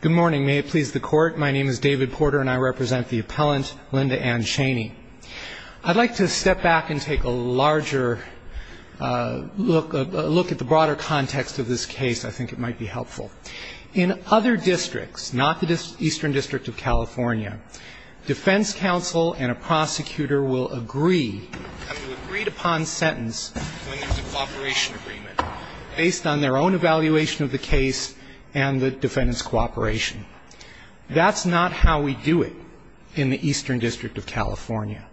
Good morning. May it please the Court, my name is David Porter and I represent the appellant Linda Ann Chaney. I'd like to step back and take a larger look at the broader context of this case. I think it might be helpful. In other districts, not the Eastern District of California, defense counsel and a prosecutor will agree, have an agreed upon sentence when there's a cooperation agreement based on their own evaluation of the case and the defendants' cooperation. That's not how we do it in the Eastern District of California.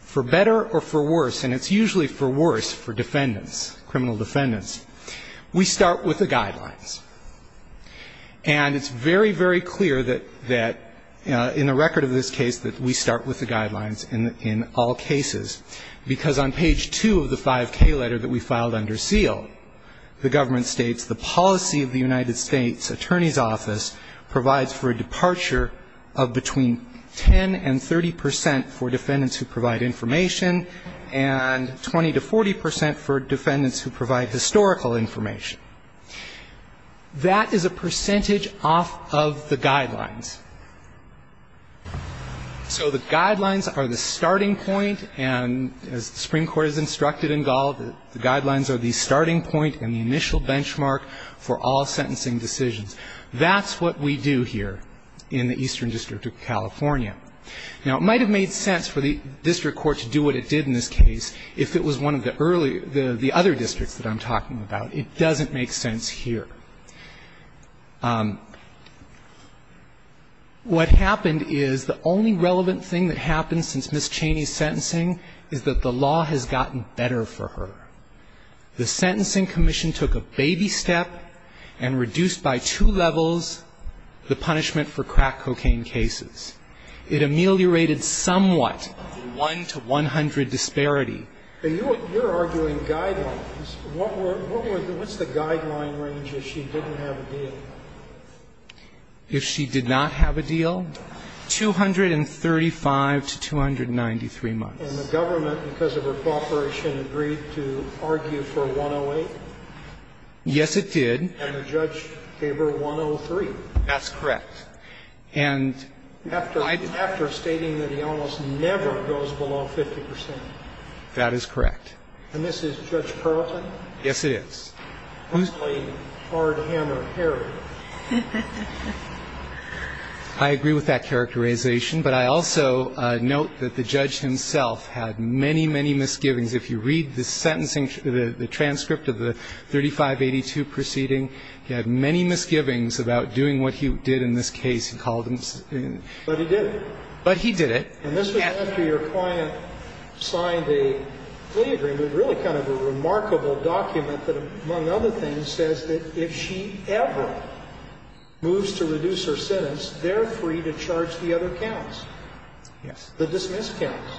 For better or for worse, and it's usually for worse for defendants, criminal defendants, we start with the guidelines. And it's very, very clear that in the record of this case that we start with the guidelines in all cases, because on page 2 of the 5K letter that we filed under seal, the government states the policy of the United States Attorney's Office provides for a departure of between 10 and 30 percent for defendants who provide information and 20 to 40 percent for defendants who provide historical information. That is a percentage off of the guidelines. So the guidelines are the starting point, and as the Supreme Court has instructed in Gall, the guidelines are the starting point and the initial benchmark for all sentencing decisions. That's what we do here in the Eastern District of California. Now, it might have made sense for the district court to do what it did in this case if it was one of the earlier, the other districts that I'm talking about. It doesn't make sense here. What happened is the only relevant thing that happened since Ms. Cheney's sentencing is that the law has gotten better for her. The Sentencing Commission took a baby step and reduced by two levels the punishment for crack cocaine cases. It ameliorated somewhat the 1 to 100 disparity. And you're arguing guidelines. What's the guideline range if she didn't have a deal? If she did not have a deal, 235 to 293 months. And the government, because of her cooperation, agreed to argue for 108? Yes, it did. And the judge gave her 103. That's correct. And after stating that he almost never goes below 50 percent. That is correct. And this is Judge Carrollton? Yes, it is. Who's played hard hammer Harry? I agree with that characterization. But I also note that the judge himself had many, many misgivings. If you read the sentencing, the transcript of the 3582 proceeding, he had many misgivings about doing what he did in this case. But he did it. But he did it. And this was after your client signed a plea agreement, really kind of a remarkable document that, among other things, says that if she ever moves to reduce her sentence, they're free to charge the other counts. Yes. The dismissed counts.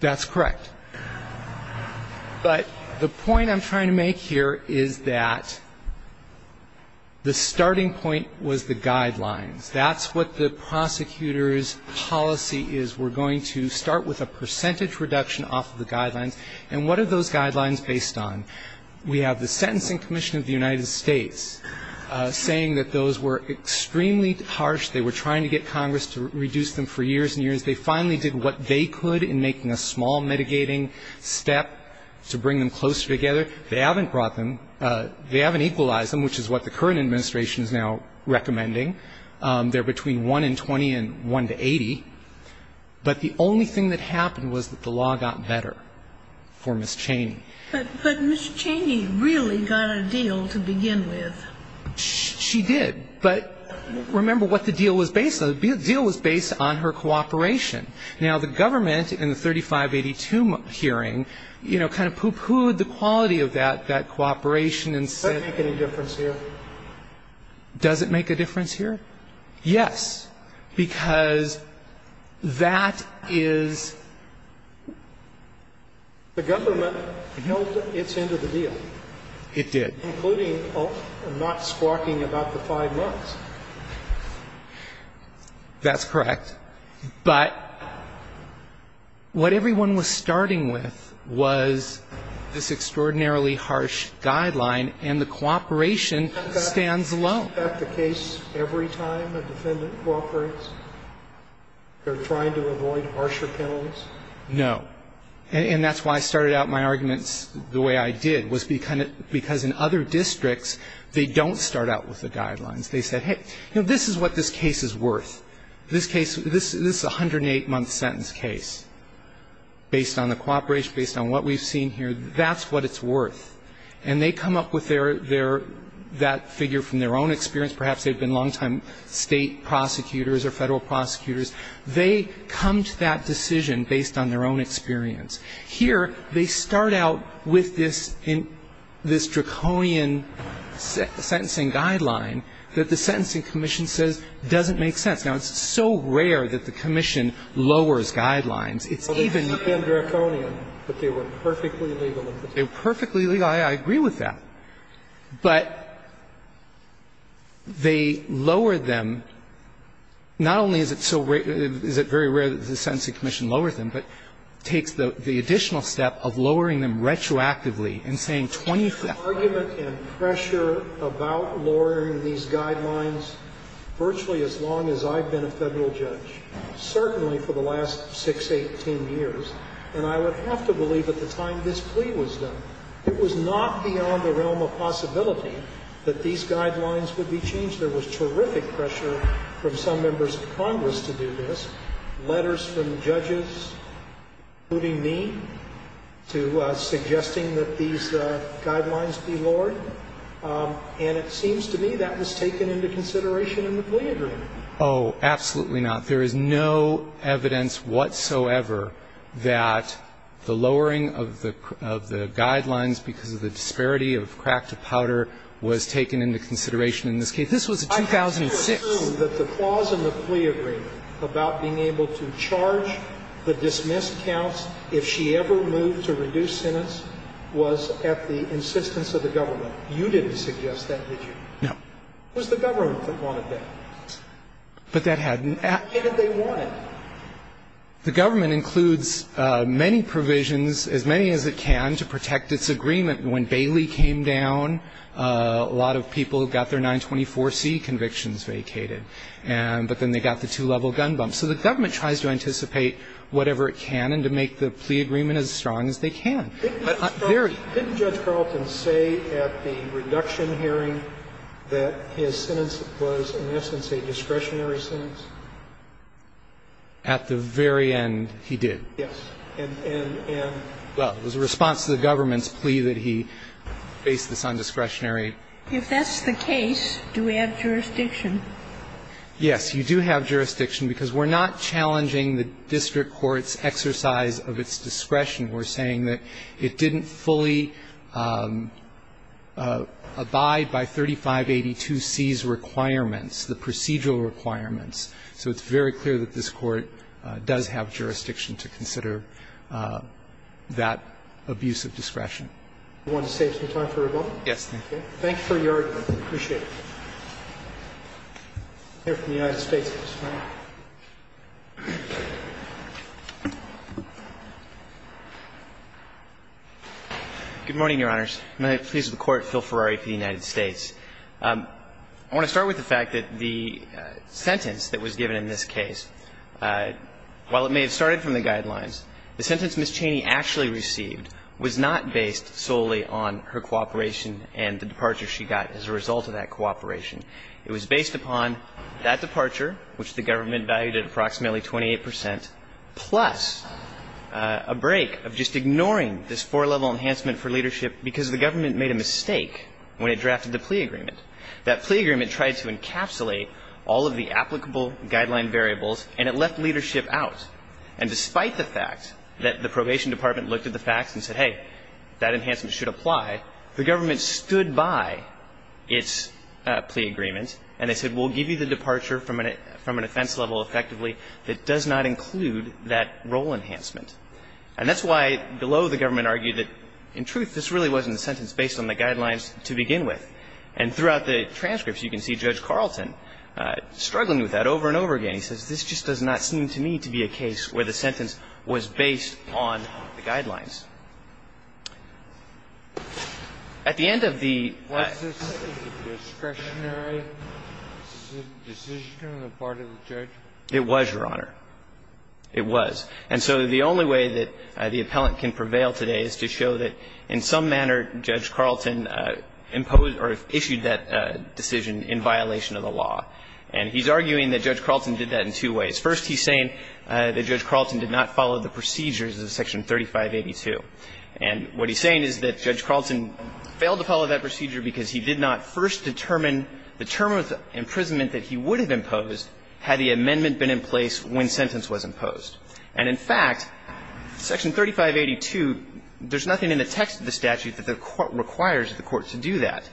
That's correct. But the point I'm trying to make here is that the starting point was the guidelines. That's what the prosecutor's policy is. We're going to start with a percentage reduction off of the guidelines. And what are those guidelines based on? We have the Sentencing Commission of the United States saying that those were extremely harsh. They were trying to get Congress to reduce them for years and years. They finally did what they could in making a small mitigating step to bring them closer together. They haven't brought them. They haven't equalized them, which is what the current administration is now recommending. They're between 1 in 20 and 1 to 80. But the only thing that happened was that the law got better for Ms. Cheney. But Ms. Cheney really got a deal to begin with. She did. But remember what the deal was based on. The deal was based on her cooperation. Now, the government, in the 3582 hearing, you know, kind of poo-pooed the quality of that cooperation and said... Does that make any difference here? Does it make a difference here? Yes. Because that is... The government held its end of the deal. It did. Including not squawking about the five months. That's correct. But what everyone was starting with was this extraordinarily harsh guideline, and the cooperation stands alone. Isn't that the case every time a defendant cooperates? They're trying to avoid harsher penalties? No. And that's why I started out my arguments the way I did, was because in other districts, they don't start out with the guidelines. They said, hey, you know, this is what this case is worth. This case, this is a 108-month sentence case. Based on the cooperation, based on what we've seen here, that's what it's worth. And they come up with that figure from their own experience. Perhaps they've been long-time state prosecutors or federal prosecutors. They come to that decision based on their own experience. Here, they start out with this draconian sentencing guideline that the sentencing commission says doesn't make sense. Now, it's so rare that the commission lowers guidelines. It's even... Well, they're not being draconian, but they were perfectly legal. They were perfectly legal. I agree with that. But they lower them. Not only is it so rare or is it very rare that the sentencing commission lowers them, but it takes the additional step of lowering them retroactively and saying twenty-fifth... I've had argument and pressure about lowering these guidelines virtually as long as I've been a Federal judge, certainly for the last 6, 18 years. And I would have to believe at the time this plea was done, it was not beyond the realm of possibility that these guidelines would be changed. There was terrific pressure from some members of Congress to do this. Letters from judges, including me, to suggesting that these guidelines be lowered. And it seems to me that was taken into consideration in the plea agreement. Oh, absolutely not. There is no evidence whatsoever that the lowering of the guidelines because of the disparity of crack to powder was taken into consideration in this case. This was 2006. I have to assume that the clause in the plea agreement about being able to charge the dismissed counts if she ever moved to reduce sentence was at the insistence of the government. You didn't suggest that, did you? No. It was the government that wanted that. But that hadn't... Why didn't they want it? The government includes many provisions, as many as it can, to protect its agreement. When Bailey came down, a lot of people got their 924C convictions vacated. But then they got the two-level gun bump. So the government tries to anticipate whatever it can and to make the plea agreement as strong as they can. Didn't Judge Carlton say at the reduction hearing that his sentence was in essence a discretionary sentence? At the very end, he did. Yes. And, and, and... Well, it was a response to the government's plea that he face this on discretionary. If that's the case, do we have jurisdiction? Yes, you do have jurisdiction because we're not challenging the district court's exercise of its discretion. We're saying that it didn't fully abide by 3582C's requirements, the procedural requirements. So it's very clear that this Court does have jurisdiction to consider that abuse of discretion. Do you want to save some time for rebuttal? Yes, thank you. Thank you for your argument. I appreciate it. I'm here for the United States case. Good morning, Your Honors. May it please the Court, Phil Ferrari for the United States. I want to start with the fact that the sentence that was given in this case, while it may have started from the guidelines, the sentence Ms. Cheney actually received was not based solely on her cooperation and the departure she got as a result of that cooperation. It was based upon that departure, which the government valued at approximately 28 percent, plus a break of just ignoring this four-level enhancement for leadership because the government made a mistake when it drafted the plea agreement. That plea agreement tried to encapsulate all of the applicable guideline variables, and it left leadership out. And despite the fact that the probation department looked at the facts and said, hey, that enhancement should apply, the government stood by its plea agreement, and they said, we'll give you the departure from an offense level effectively that does not include that role enhancement. And that's why below the government argued that, in truth, this really wasn't a sentence based on the guidelines to begin with. And throughout the transcripts, you can see Judge Carlton struggling with that over and over again. He says, this just does not seem to me to be a case where the sentence was based on the guidelines. At the end of the ---- Was this a discretionary decision on the part of the judge? It was, Your Honor. It was. And so the only way that the appellant can prevail today is to show that in some manner, Judge Carlton imposed or issued that decision in violation of the law. And he's arguing that Judge Carlton did that in two ways. First, he's saying that Judge Carlton did not follow the procedures of Section 3582. And what he's saying is that Judge Carlton failed to follow that procedure because he did not first determine the term of imprisonment that he would have imposed had the amendment been in place when sentence was imposed. And, in fact, Section 3582, there's nothing in the text of the statute that the Court requires the Court to do that.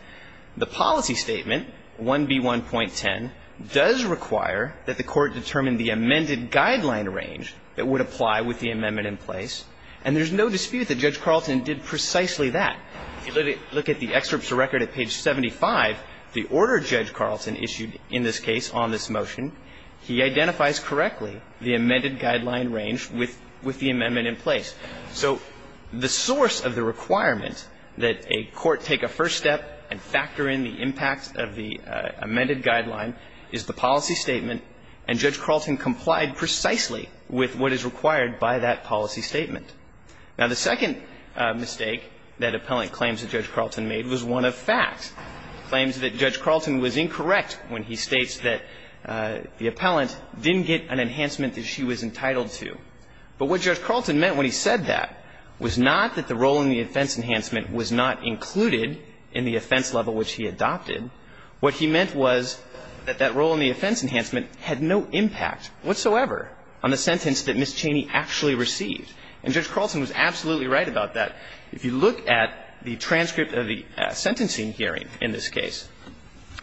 The policy statement, 1B1.10, does require that the Court determine the amended guideline range that would apply with the amendment in place. And there's no dispute that Judge Carlton did precisely that. If you look at the excerpts of record at page 75, the order Judge Carlton issued in this case on this motion, he identifies correctly the amended guideline range with the amendment in place. So the source of the requirement that a court take a first step and factor in the impact of the amended guideline is the policy statement. And Judge Carlton complied precisely with what is required by that policy statement. Now, the second mistake that appellant claims that Judge Carlton made was one of facts. He claims that Judge Carlton was incorrect when he states that the appellant didn't get an enhancement that she was entitled to. But what Judge Carlton meant when he said that was not that the role in the offense enhancement was not included in the offense level which he adopted. What he meant was that that role in the offense enhancement had no impact whatsoever on the sentence that Ms. Cheney actually received. And Judge Carlton was absolutely right about that. If you look at the transcript of the sentencing hearing in this case,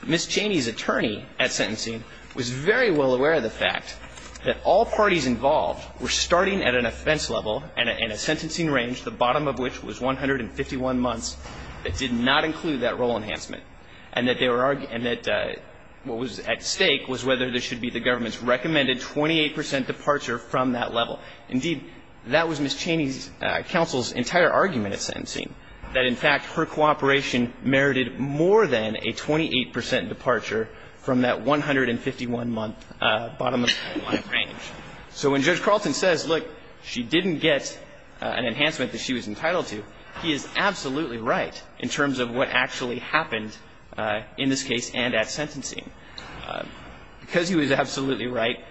Ms. Cheney's attorney at sentencing was very well aware of the fact that all parties involved were starting at an offense level and in a sentencing range, the bottom of which was 151 months. It did not include that role enhancement. And that they were arguing that what was at stake was whether there should be the government's recommended 28 percent departure from that level. Indeed, that was Ms. Cheney's counsel's entire argument at sentencing, that in fact her cooperation merited more than a 28 percent departure from that 151-month bottom of the line range. So when Judge Carlton says, look, she didn't get an enhancement that she was entitled to, he is absolutely right in terms of what actually happened in this case and at sentencing. Because he was absolutely right,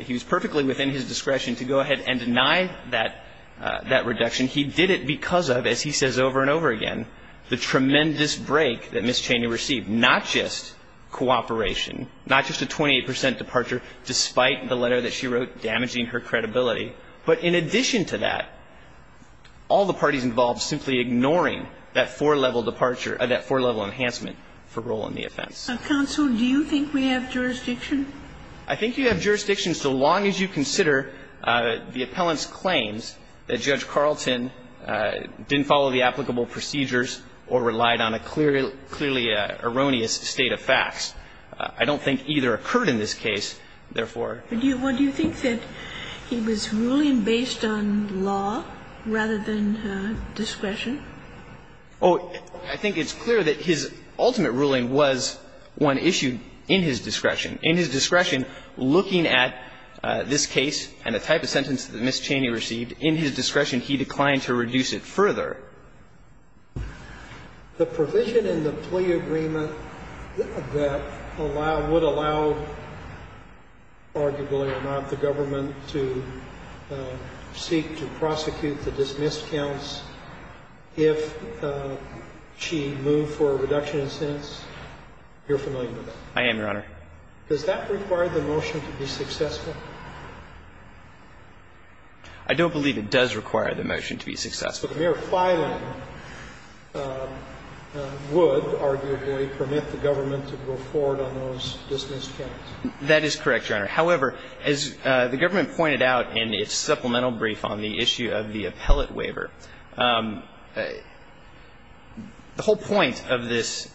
he was perfectly within his discretion to go ahead and deny that reduction. He did it because of, as he says over and over again, the tremendous break that Ms. Cheney received, not just cooperation, not just a 28 percent departure, despite the letter that she wrote damaging her credibility, but in addition to that, all the parties involved simply ignoring that four-level departure or that four-level enhancement for role in the offense. Counsel, do you think we have jurisdiction? I think you have jurisdiction so long as you consider the appellant's claims that Judge Carlton didn't follow the applicable procedures or relied on a clearly erroneous state of facts. I don't think either occurred in this case, therefore. Do you think that he was ruling based on law rather than discretion? Oh, I think it's clear that his ultimate ruling was one issued in his discretion. In his discretion, looking at this case and the type of sentence that Ms. Cheney received, in his discretion, he declined to reduce it further. The provision in the plea agreement that would allow, arguably or not, the government to seek to prosecute the dismissed counts if she moved for a reduction in sentence, you're familiar with that? I am, Your Honor. Does that require the motion to be successful? I don't believe it does require the motion to be successful. But the mere filing would, arguably, permit the government to go forward on those dismissed counts. That is correct, Your Honor. However, as the government pointed out in its supplemental brief on the issue of the appellate waiver, the whole point of this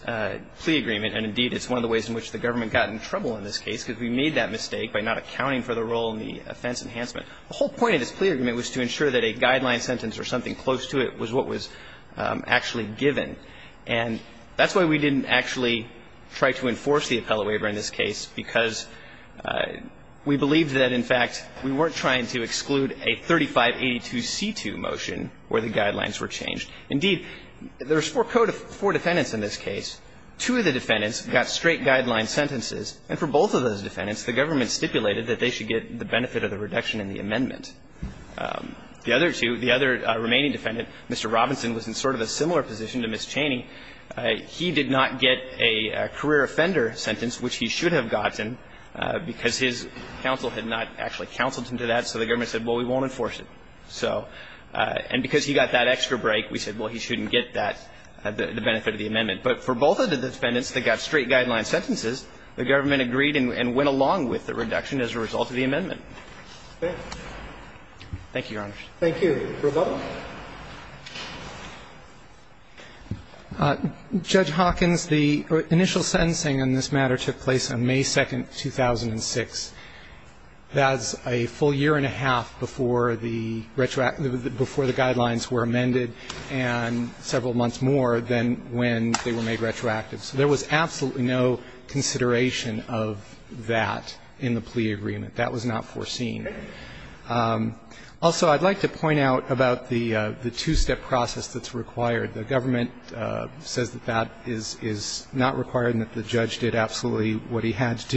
plea agreement, and indeed it's one of the ways in which the government got in trouble in this case because we made that mistake by not accounting for the role in the offense enhancement, the whole point of this plea agreement was to ensure that a guideline sentence or something close to it was what was actually given. And that's why we didn't actually try to enforce the appellate waiver in this case, because we believed that, in fact, we weren't trying to exclude a 3582c2 motion where the guidelines were changed. Indeed, there's four defendants in this case. Two of the defendants got straight guideline sentences, and for both of those defendants, the government stipulated that they should get the benefit of the reduction in the amendment. The other two, the other remaining defendant, Mr. Robinson, was in sort of a similar position to Ms. Cheney. He did not get a career offender sentence, which he should have gotten, because his counsel had not actually counseled him to that, so the government said, well, we won't enforce it. And because he got that extra break, we said, well, he shouldn't get that, the benefit of the amendment. But for both of the defendants that got straight guideline sentences, the government agreed and went along with the reduction as a result of the amendment. Thank you, Your Honor. Thank you. Roboto. Judge Hawkins, the initial sentencing in this matter took place on May 2, 2006. That's a full year and a half before the guidelines were amended and several months more than when they were made retroactive. So there was absolutely no consideration of that in the plea agreement. That was not foreseen. Also, I'd like to point out about the two-step process that's required. The government says that that is not required and that the judge did absolutely what he had to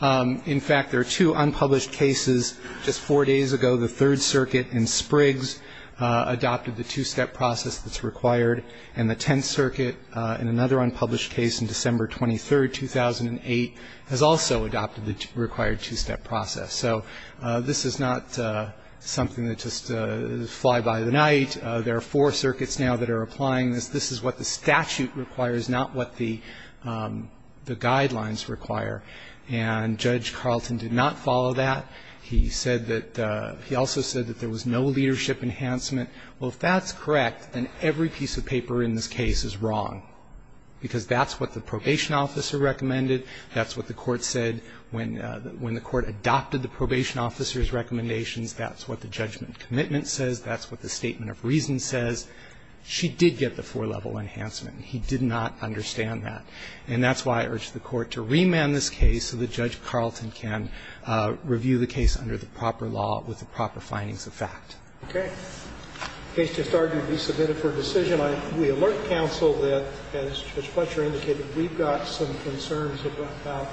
do. In fact, there are two unpublished cases. Just four days ago, the Third Circuit in Spriggs adopted the two-step process that's required, and the Tenth Circuit, in another unpublished case on December 23, 2008, has also adopted the required two-step process. So this is not something that just flies by the night. There are four circuits now that are applying this. This is what the statute requires, not what the guidelines require. And Judge Carlton did not follow that. He said that he also said that there was no leadership enhancement. Well, if that's correct, then every piece of paper in this case is wrong, because that's what the probation officer recommended. That's what the court said when the court adopted the probation officer's recommendations. That's what the judgment commitment says. That's what the statement of reason says. She did get the four-level enhancement. He did not understand that. And that's why I urge the Court to remand this case so that Judge Carlton can review the case under the proper law with the proper findings of fact. Roberts. Okay. The case just argued to be submitted for decision. We alert counsel that, as Judge Fletcher indicated, we've got some concerns about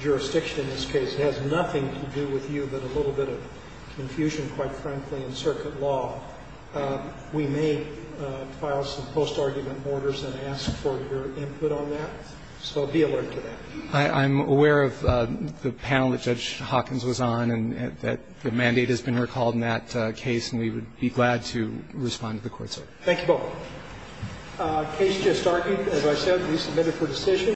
jurisdiction in this case. It has nothing to do with you but a little bit of confusion, quite frankly, in circuit law. We may file some post-argument orders and ask for your input on that. So be alert to that. I'm aware of the panel that Judge Hawkins was on and that the mandate has been recalled in that case, and we would be glad to respond to the court's order. Thank you both. The case just argued, as I said, to be submitted for decision.